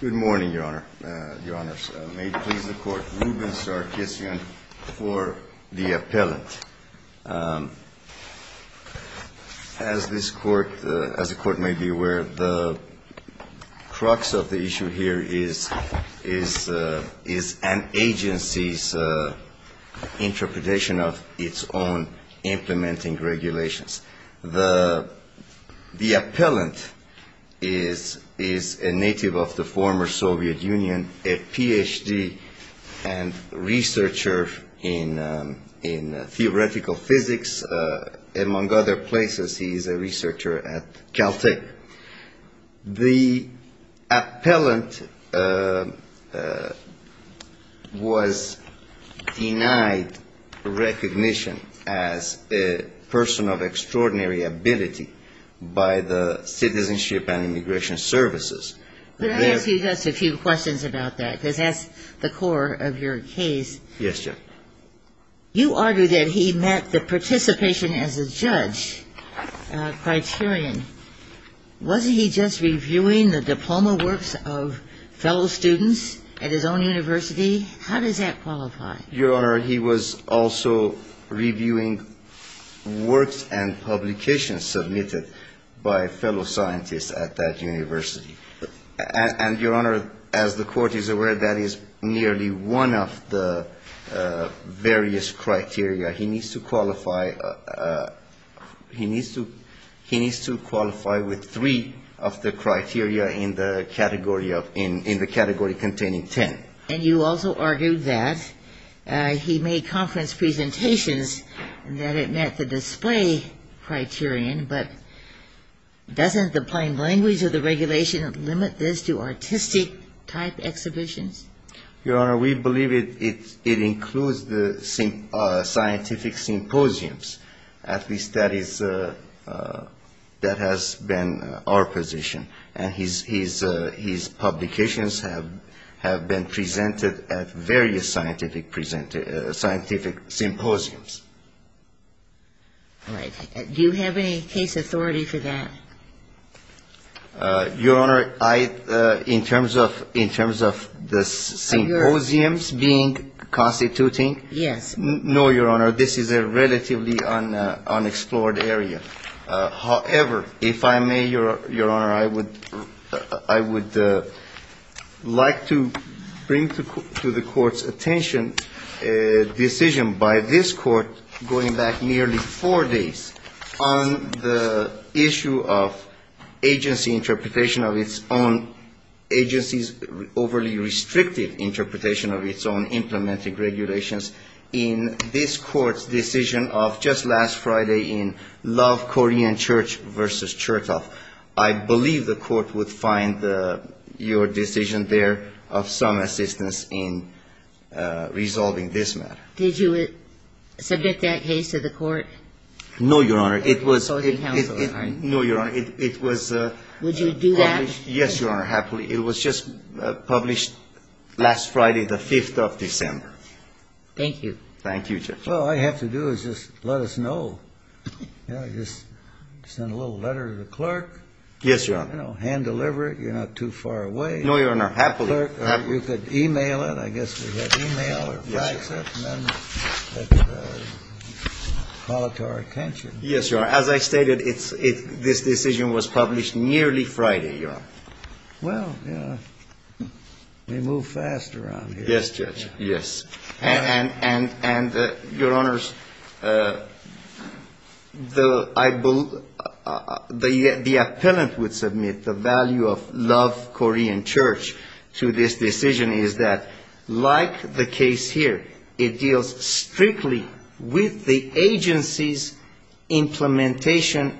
Good morning, Your Honor. May it please the Court, Ruben Sarkissian for the appellant. As the Court may be aware, the crux of the issue here is an agency's interpretation of its own implementing regulations. The appellant is a native of the former Soviet Union, a Ph.D. and researcher in theoretical physics. Among other places, he is a researcher at Caltech. The appellant was denied recognition as a person of extraordinary ability by the Citizenship and Immigration Services. Could I ask you just a few questions about that? Because that's the core of your case. Yes, Judge. You argue that he met the participation as a judge criterion. Was he just reviewing the diploma works of fellow students at his own university? How does that qualify? Your Honor, he was also reviewing works and publications submitted by fellow scientists at that university. And, Your Honor, as the Court is aware, that is nearly one of the various criteria. He needs to qualify he needs to he needs to qualify with three of the criteria in the category of in the category containing ten. And you also argued that he made conference presentations and that it met the display criterion. But doesn't the plain language of the regulation limit this to artistic type exhibitions? Your Honor, we believe it includes the scientific symposiums. At least that is that has been our position. And his publications have been presented at various scientific symposiums. Do you have any case authority for that? Your Honor, I in terms of in terms of the symposiums being constituting. Yes. No, Your Honor. This is a relatively unexplored area. However, if I may, Your Honor, I would I would like to bring to the court's attention a decision by this court going back nearly four days on the issue of agency interpretation of its own agency's overly restrictive interpretation of its own implementing regulations in this court's decision of just last Friday in Love Korean Church v. Chertoff. I believe the court would find your decision there of some assistance in resolving this matter. Did you subject that case to the court? No, Your Honor. Would you do that? Yes, Your Honor. Happily. It was just published last Friday, the 5th of December. Thank you. Thank you, Judge. Well, all you have to do is just let us know. You know, just send a little letter to the clerk. Yes, Your Honor. You know, hand deliver it. You're not too far away. No, Your Honor. Happily. You could e-mail it. I guess we have e-mail or fax it. Yes, Your Honor. And then call it to our attention. Yes, Your Honor. As I stated, this decision was published nearly Friday, Your Honor. Well, you know, we move fast around here. Yes, Judge. Yes. And, Your Honors, the appellant would submit the value of love Korean church to this decision is that like the case here, strictly with the agency's implementation,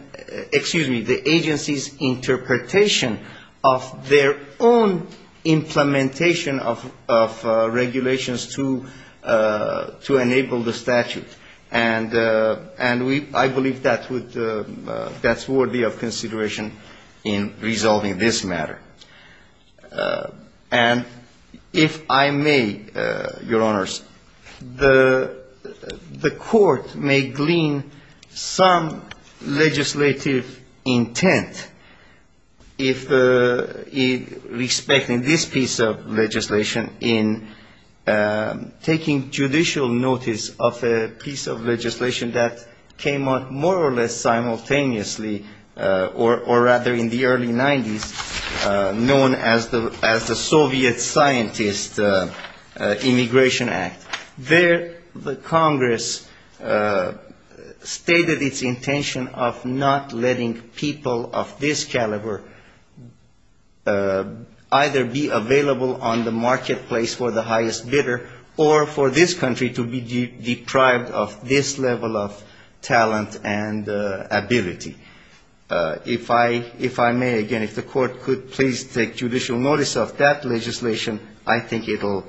excuse me, the agency's interpretation of their own implementation of regulations to enable the statute. And I believe that's worthy of consideration in resolving this matter. And if I may, Your Honors, the court may glean some legislative intent if respecting this piece of legislation in taking judicial notice of a piece of legislation that came out more or less simultaneously or rather in the early 90s known as the Soviet Scientist Immigration Act. There the Congress stated its intention of not letting people of this caliber either be available on the marketplace for the highest bidder or for this country to be deprived of this level of talent and ability. If I may, again, if the court could please take judicial notice of that legislation, I think it will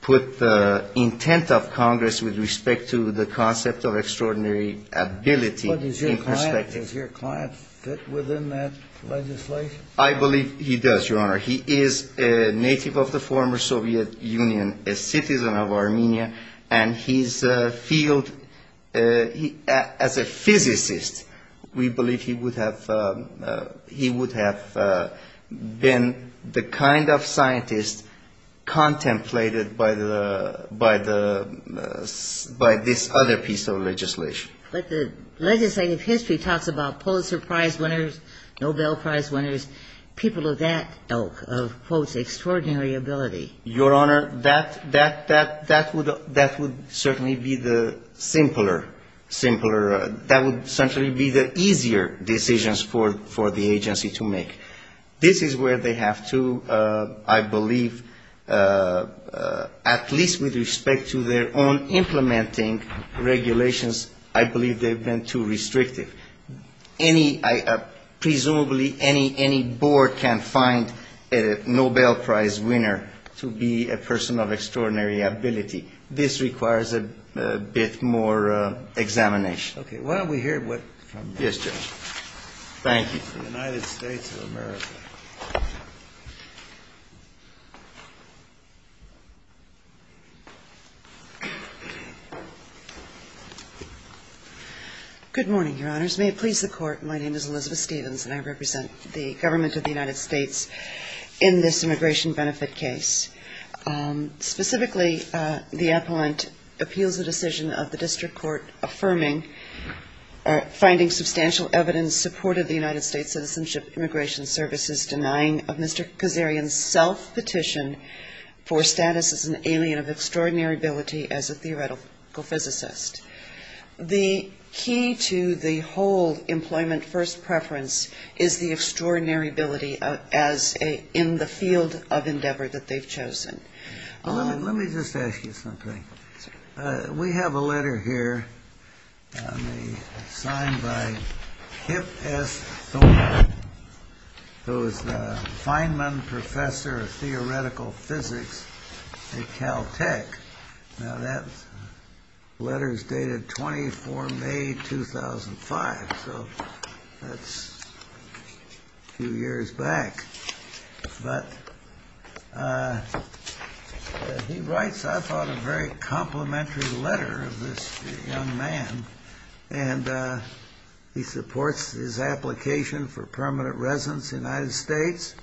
put the intent of Congress with respect to the concept of extraordinary ability in perspective. But does your client fit within that legislation? He is a native of the former Soviet Union, a citizen of Armenia, and his field, as a physicist, we believe he would have been the kind of scientist contemplated by this other piece of legislation. But the legislative history talks about Pulitzer Prize winners, Nobel Prize winners, people of that ilk of, quote, extraordinary ability. Your Honor, that would certainly be the simpler, simpler, that would certainly be the easier decisions for the agency to make. This is where they have to, I believe, at least with respect to their own implementing regulations. I believe they have been too restrictive. Presumably any board can find a Nobel Prize winner to be a person of extraordinary ability. This requires a bit more examination. Okay. Why don't we hear what from the United States of America. Good morning, Your Honors. May it please the Court, my name is Elizabeth Stevens, and I represent the government of the United States in this immigration benefit case. Specifically, the appellant appeals the decision of the district court affirming or finding substantial evidence supportive of the United States Citizenship and Immigration Services denying of Mr. Kazarian's self-petition for status as an alien of extraordinary ability as a theoretical physicist. The key to the whole employment first preference is the extraordinary ability in the field of endeavor that they've chosen. Let me just ask you something. We have a letter here signed by Kip S. Thorne, who is the Feynman Professor of Theoretical Physics at Caltech. Now, that letter is dated 24 May 2005, so that's a few years back. But he writes, I thought, a very complimentary letter of this young man, and he supports his application for permanent residence in the United States.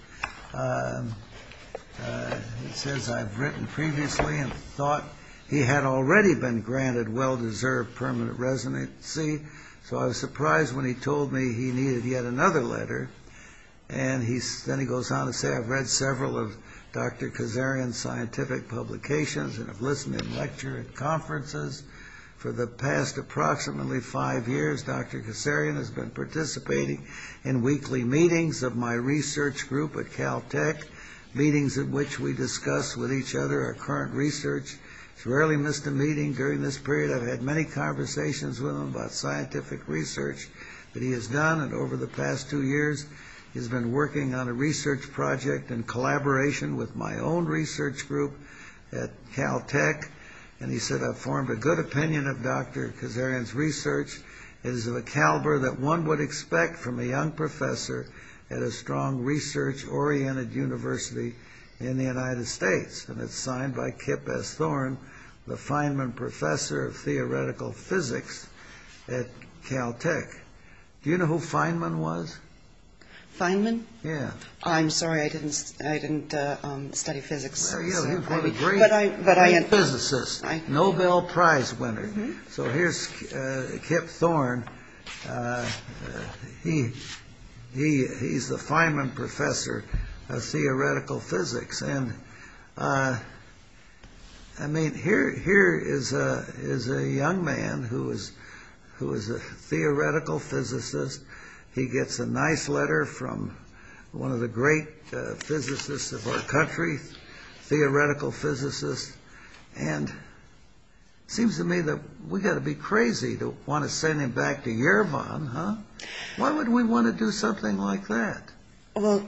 He says, I've written previously and thought he had already been granted well-deserved permanent residency, so I was surprised when he told me he needed yet another letter. And then he goes on to say, I've read several of Dr. Kazarian's scientific publications and have listened in lecture and conferences for the past approximately five years. Dr. Kazarian has been participating in weekly meetings of my research group at Caltech, meetings in which we discuss with each other our current research. He's rarely missed a meeting during this period. I've had many conversations with him about scientific research that he has done, and over the past two years he's been working on a research project in collaboration with my own research group at Caltech. And he said, I've formed a good opinion of Dr. Kazarian's research. It is of a caliber that one would expect from a young professor at a strong research-oriented university in the United States. And it's signed by Kip S. Thorne, the Feynman Professor of Theoretical Physics at Caltech. Do you know who Feynman was? Feynman? I'm sorry, I didn't study physics. He was a great physicist, Nobel Prize winner. So here's Kip Thorne. He's the Feynman Professor of Theoretical Physics. And I mean, here is a young man who is a theoretical physicist. He gets a nice letter from one of the great physicists of our country, theoretical physicist. And it seems to me that we've got to be crazy to want to send him back to Yerevan. Why would we want to do something like that? The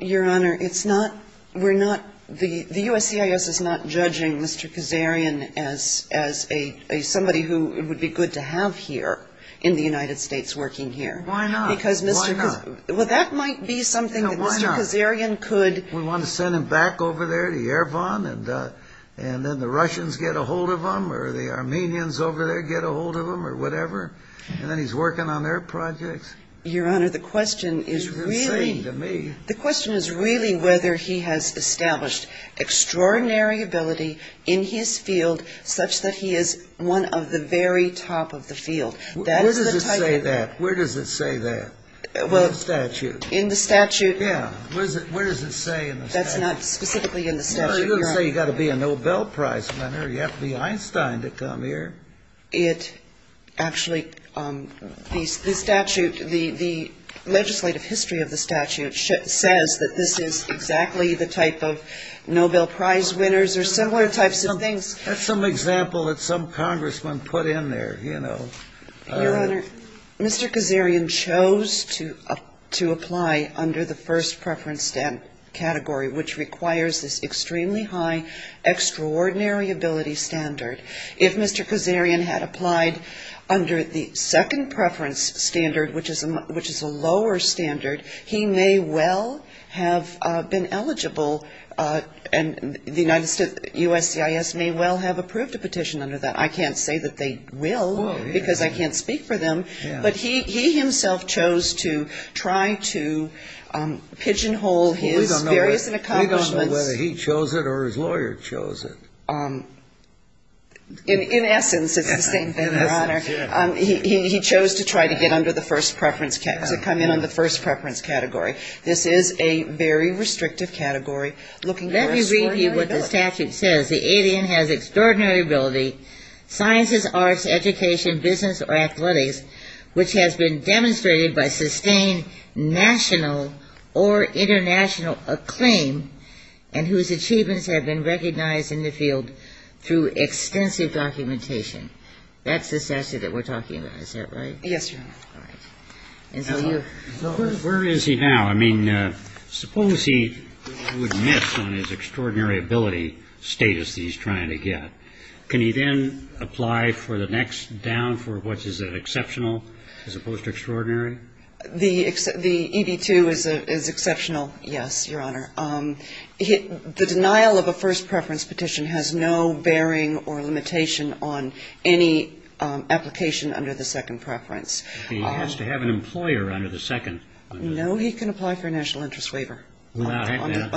USCIS is not judging Mr. Kazarian as somebody who would be good to have here in the United States working here. Why not? Well, that might be something that Mr. Kazarian could... We want to send him back over there to Yerevan, and then the Russians get a hold of him, or the Armenians over there get a hold of him, or whatever. And then he's working on their projects. Your Honor, the question is really... You've been saying to me... The question is really whether he has established extraordinary ability in his field such that he is one of the very top of the field. Where does it say that? In the statute. In the statute? Yeah. Where does it say in the statute? That's not specifically in the statute, Your Honor. Well, it doesn't say you've got to be a Nobel Prize winner, you have to be Einstein to come here. Actually, the legislative history of the statute says that this is exactly the type of Nobel Prize winners or similar types of things. That's some example that some congressman put in there, you know. Your Honor, Mr. Kazarian chose to apply under the first preference category, which requires this extremely high extraordinary ability standard. If Mr. Kazarian had applied under the second preference standard, which is a lower standard, he may well have been eligible. And the United States USCIS may well have approved a petition under that. I can't say that they will, because I can't speak for them. But he himself chose to try to pigeonhole his various accomplishments. We don't know whether he chose it or his lawyer chose it. Your Honor, he chose to try to get under the first preference, to come in under the first preference category. This is a very restrictive category looking for extraordinary ability. Let me read you what the statute says. The alien has extraordinary ability, sciences, arts, education, business or athletics, which has been demonstrated by sustained national or international acclaim, and whose achievements have been recognized in the field through extensive documentation. That's the statute that we're talking about, is that right? Yes, Your Honor. All right. Where is he now? I mean, suppose he would miss on his extraordinary ability status that he's trying to get. Can he then apply for the next down for what is an exceptional as opposed to extraordinary? The EB-2 is exceptional, yes, Your Honor. The denial of a first preference petition has no bearing or limitation on any application under the second preference. He has to have an employer under the second. No, he can apply for a national interest waiver on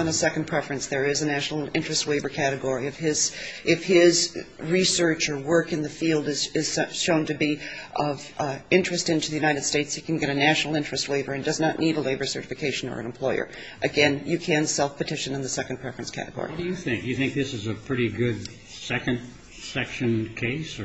a second preference. There is a national interest waiver category. If his research or work in the field is shown to be of interest into the United States, he can get a national interest waiver and does not need a labor certification or an employer. Again, you can self-petition in the second preference category. What do you think? Do you think this is a pretty good second section case?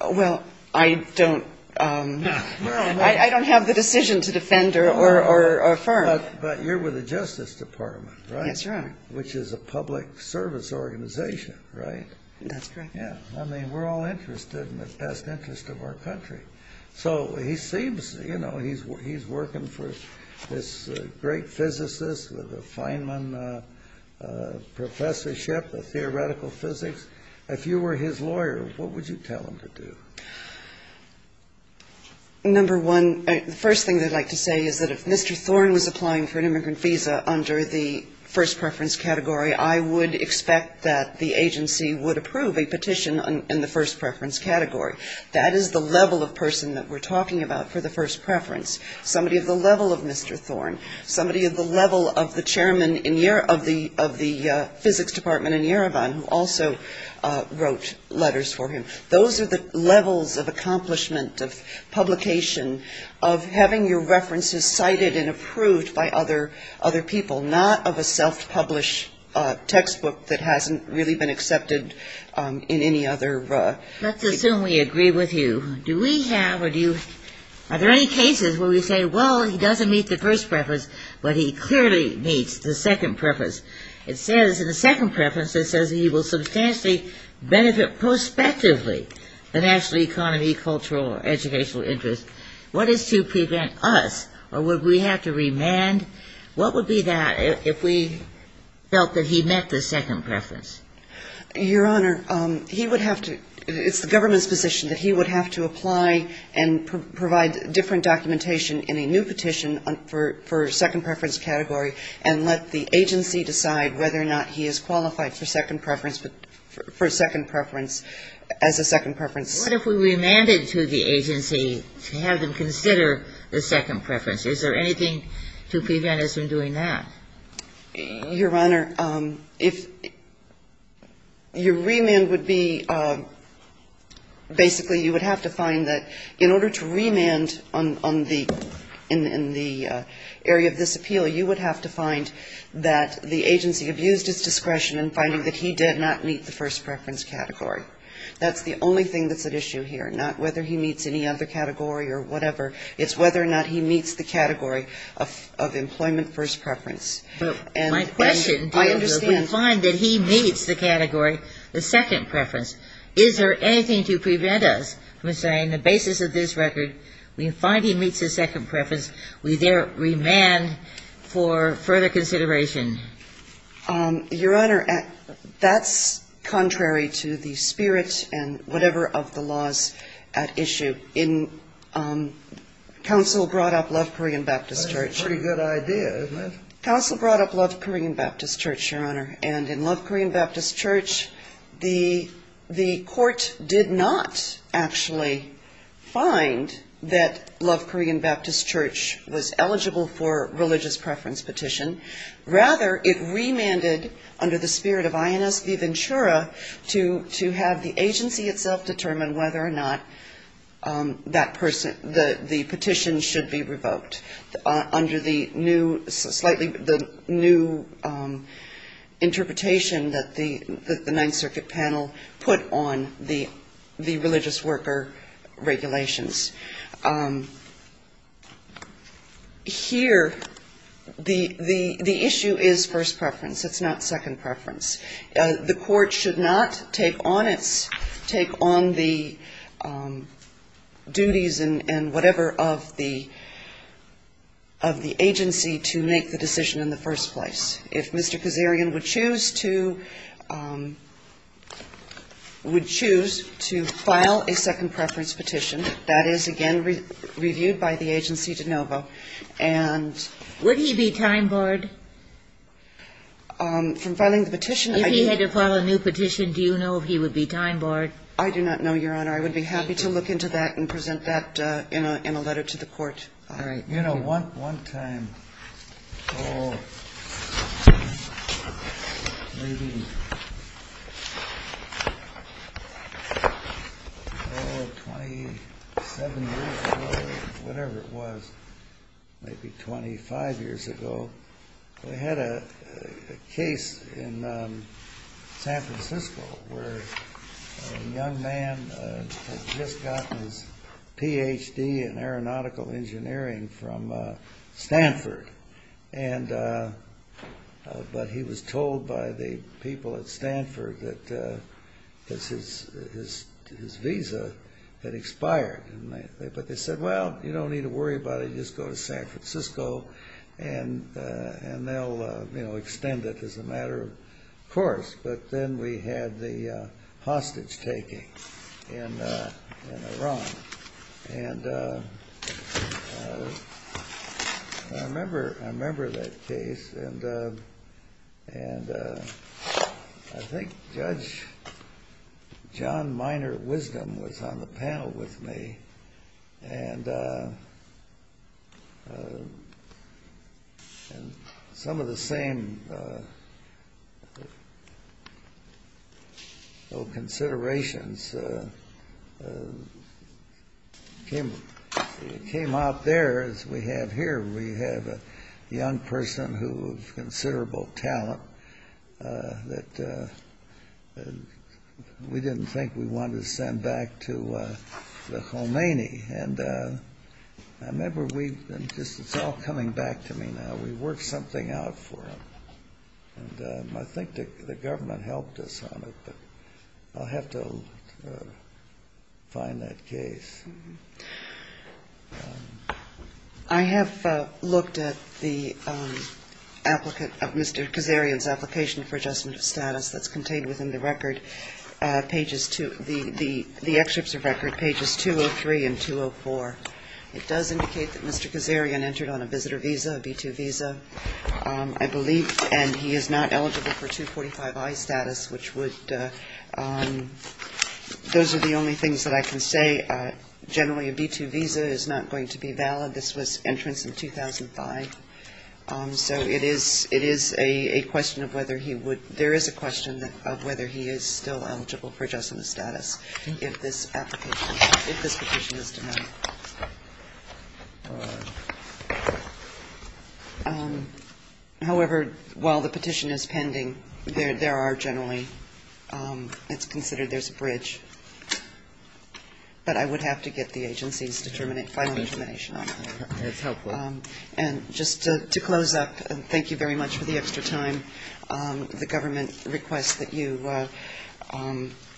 Well, I don't have the decision to defend or affirm. But you're with the Justice Department, right? Yes, Your Honor. Which is a public service organization, right? That's correct. I mean, we're all interested in the best interest of our country. So he seems, you know, he's working for this great physicist with a Feynman professorship of theoretical physics. If you were his lawyer, what would you tell him to do? Number one, the first thing I'd like to say is that if Mr. Thorne was applying for an immigrant visa under the first preference category, I would expect that the agency would approve a petition in the first preference category. That is the level of person that we're talking about for the first preference, somebody of the level of Mr. Thorne, somebody of the level of the chairman of the physics department in Yerevan who also wrote letters for him. Those are the levels of accomplishment, of publication, of having your references cited and approved by other people, not of a self-published textbook that hasn't really been accepted in any other. Let's assume we agree with you. Do we have or do you, are there any cases where we say, well, he doesn't meet the first preference, but he clearly meets the second preference? It says in the second preference, it says he will substantially benefit prospectively the national economy, cultural or educational interest. What is to prevent us or would we have to remand? What would be that if we felt that he met the second preference? Your Honor, he would have to, it's the government's position that he would have to apply and provide different documentation in a new petition for second preference category and let the agency decide whether or not he is qualified for second preference, for second preference as a second preference. What if we remanded to the agency to have them consider the second preference? Is there anything to prevent us from doing that? Your Honor, if your remand would be, basically, you would have to find that in order to remand on the, in the area of the second preference, in the area of this appeal, you would have to find that the agency abused its discretion in finding that he did not meet the first preference category. That's the only thing that's at issue here, not whether he meets any other category or whatever. It's whether or not he meets the category of employment first preference. And I understand. My question, do you find that he meets the category, the second preference? Is there anything to prevent us from saying the basis of this record, we find he meets the second preference, we there remand for further consideration? Your Honor, that's contrary to the spirit and whatever of the laws at issue. In counsel brought up Love Korean Baptist Church. That's a pretty good idea, isn't it? Counsel brought up Love Korean Baptist Church, Your Honor, and in Love Korean Baptist Church, the court did not actually find that Love Korean Baptist Church was eligible for religious preference petition. Rather, it remanded, under the spirit of Inez de Ventura, to have the agency itself determine whether or not that person, the petition should be revoked. Under the new, slightly, the new interpretation that the Ninth Circuit panel put on the religious worker regulations. Here, the issue is first preference. It's not second preference. The court should not take on its, take on the duties and whatever of the, of the agency to make the decision in the first place. If Mr. Kazarian would choose to, would choose to file a second preference petition, that is, again, reviewed by the agency de novo. And... From filing the petition. I do not know, Your Honor. I would be happy to look into that and present that in a, in a letter to the court. All right. Thank you, Your Honor. Thank you, Your Honor. And some of the same considerations came out there as we have here. We have a young person who of considerable talent that we didn't think we wanted to send back to the Khomeini. And I remember we, and this is all coming back to me now, we worked something out for him. And I think the government helped us on it, but I'll have to find that case. I have looked at the applicant, Mr. Kazarian's application for adjustment of status that's contained within the record, pages two, the excerpts of record, pages 203 and 204. It does indicate that Mr. Kazarian entered on a visitor visa, a B-2 visa, I believe. And he is not eligible for 245i status, which would, those are the only things that I can say. Generally, a B-2 visa is not going to be valid. This was entrance in 2005. So it is a question of whether he would, there is a question of whether he is still eligible for adjustment status if this application, if this petition is denied. However, while the petition is pending, there are generally, it's considered there's a bridge. But I would have to get the agency's final determination on that. And just to close up, thank you very much for the extra time. The government requests that you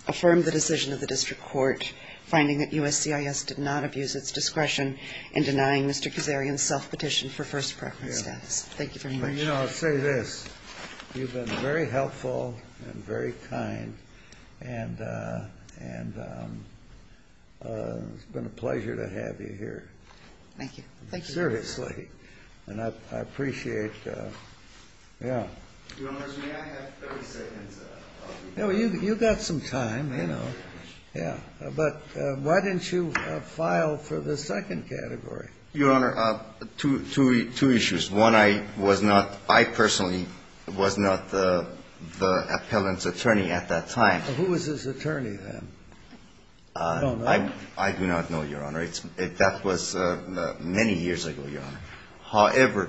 affirm the decision of the district court, finding that USCIS did not abuse its discretion in denying Mr. Kazarian's self-petition for first preference status. Thank you very much. You know, I'll say this, you've been very helpful and very kind, and it's been a pleasure to have you here. Thank you. Seriously. And I appreciate, yeah. You got some time, you know. Yeah. But why didn't you file for the second category? Your Honor, two issues. One, I was not, I personally was not the appellant's attorney at that time. Who was his attorney then? I don't know. I do not know, Your Honor. That was many years ago, Your Honor. However,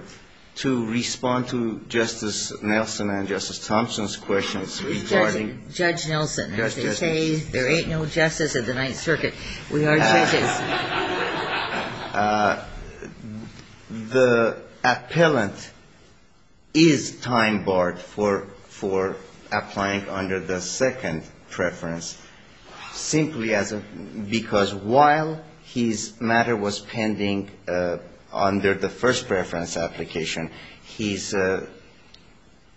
to respond to Justice Nelson and Justice Thompson's questions regarding Judge Nelson, as they say, there ain't no justice at the Ninth Circuit. We are judges. The appellant is time barred for applying under the second preference, simply because while his matter was pending under the first preference application, his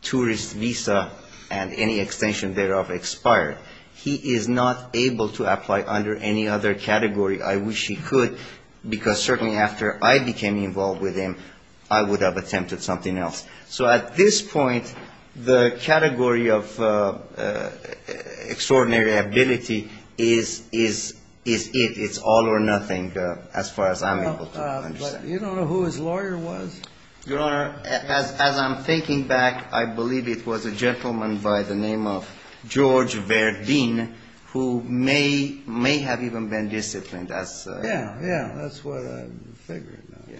tourist visa and any extension thereof expired. He is not able to apply under any other category. I wish he could, because certainly after I became involved with him, I would have attempted something else. So at this point, the category of extraordinary ability is it. It's all or nothing as far as I'm able to understand. But you don't know who his lawyer was? Your Honor, as I'm thinking back, I believe it was a gentleman by the name of George Verdeen, who may have even been disciplined. Yeah, yeah, that's what I'm figuring now.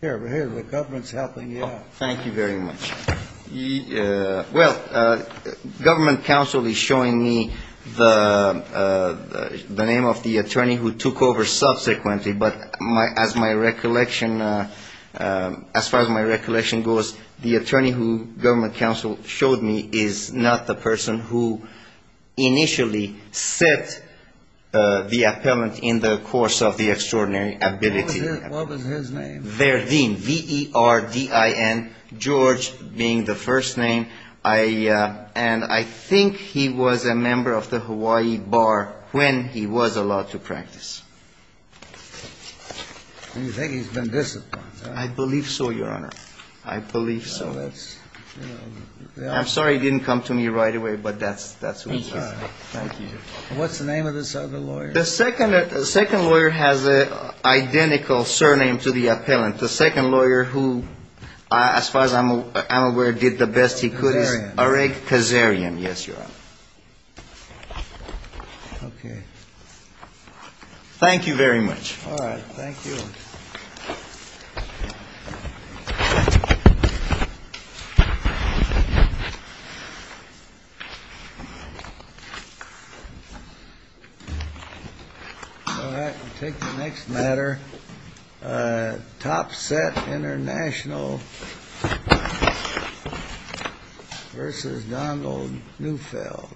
Here, the government's helping you out. Thank you very much. Well, government counsel is showing me the name of the attorney who took over subsequently. But as far as my recollection goes, the attorney who government counsel showed me is not the person who initially set the appellant in the course of the extraordinary ability. What was his name? Verdeen, V-E-R-D-I-E-N, George being the first name. And I think he was a member of the Hawaii Bar when he was allowed to practice. And you think he's been disciplined? I believe so, Your Honor. I believe so. I'm sorry he didn't come to me right away, but that's who he is. Thank you. What's the name of this other lawyer? The second lawyer has an identical surname to the appellant. The second lawyer who, as far as I'm aware, did the best he could is Eric Kazarian. Yes, Your Honor. Thank you very much. All right. We'll take the next matter. Top Set International versus Donald Neufeld. Thank you.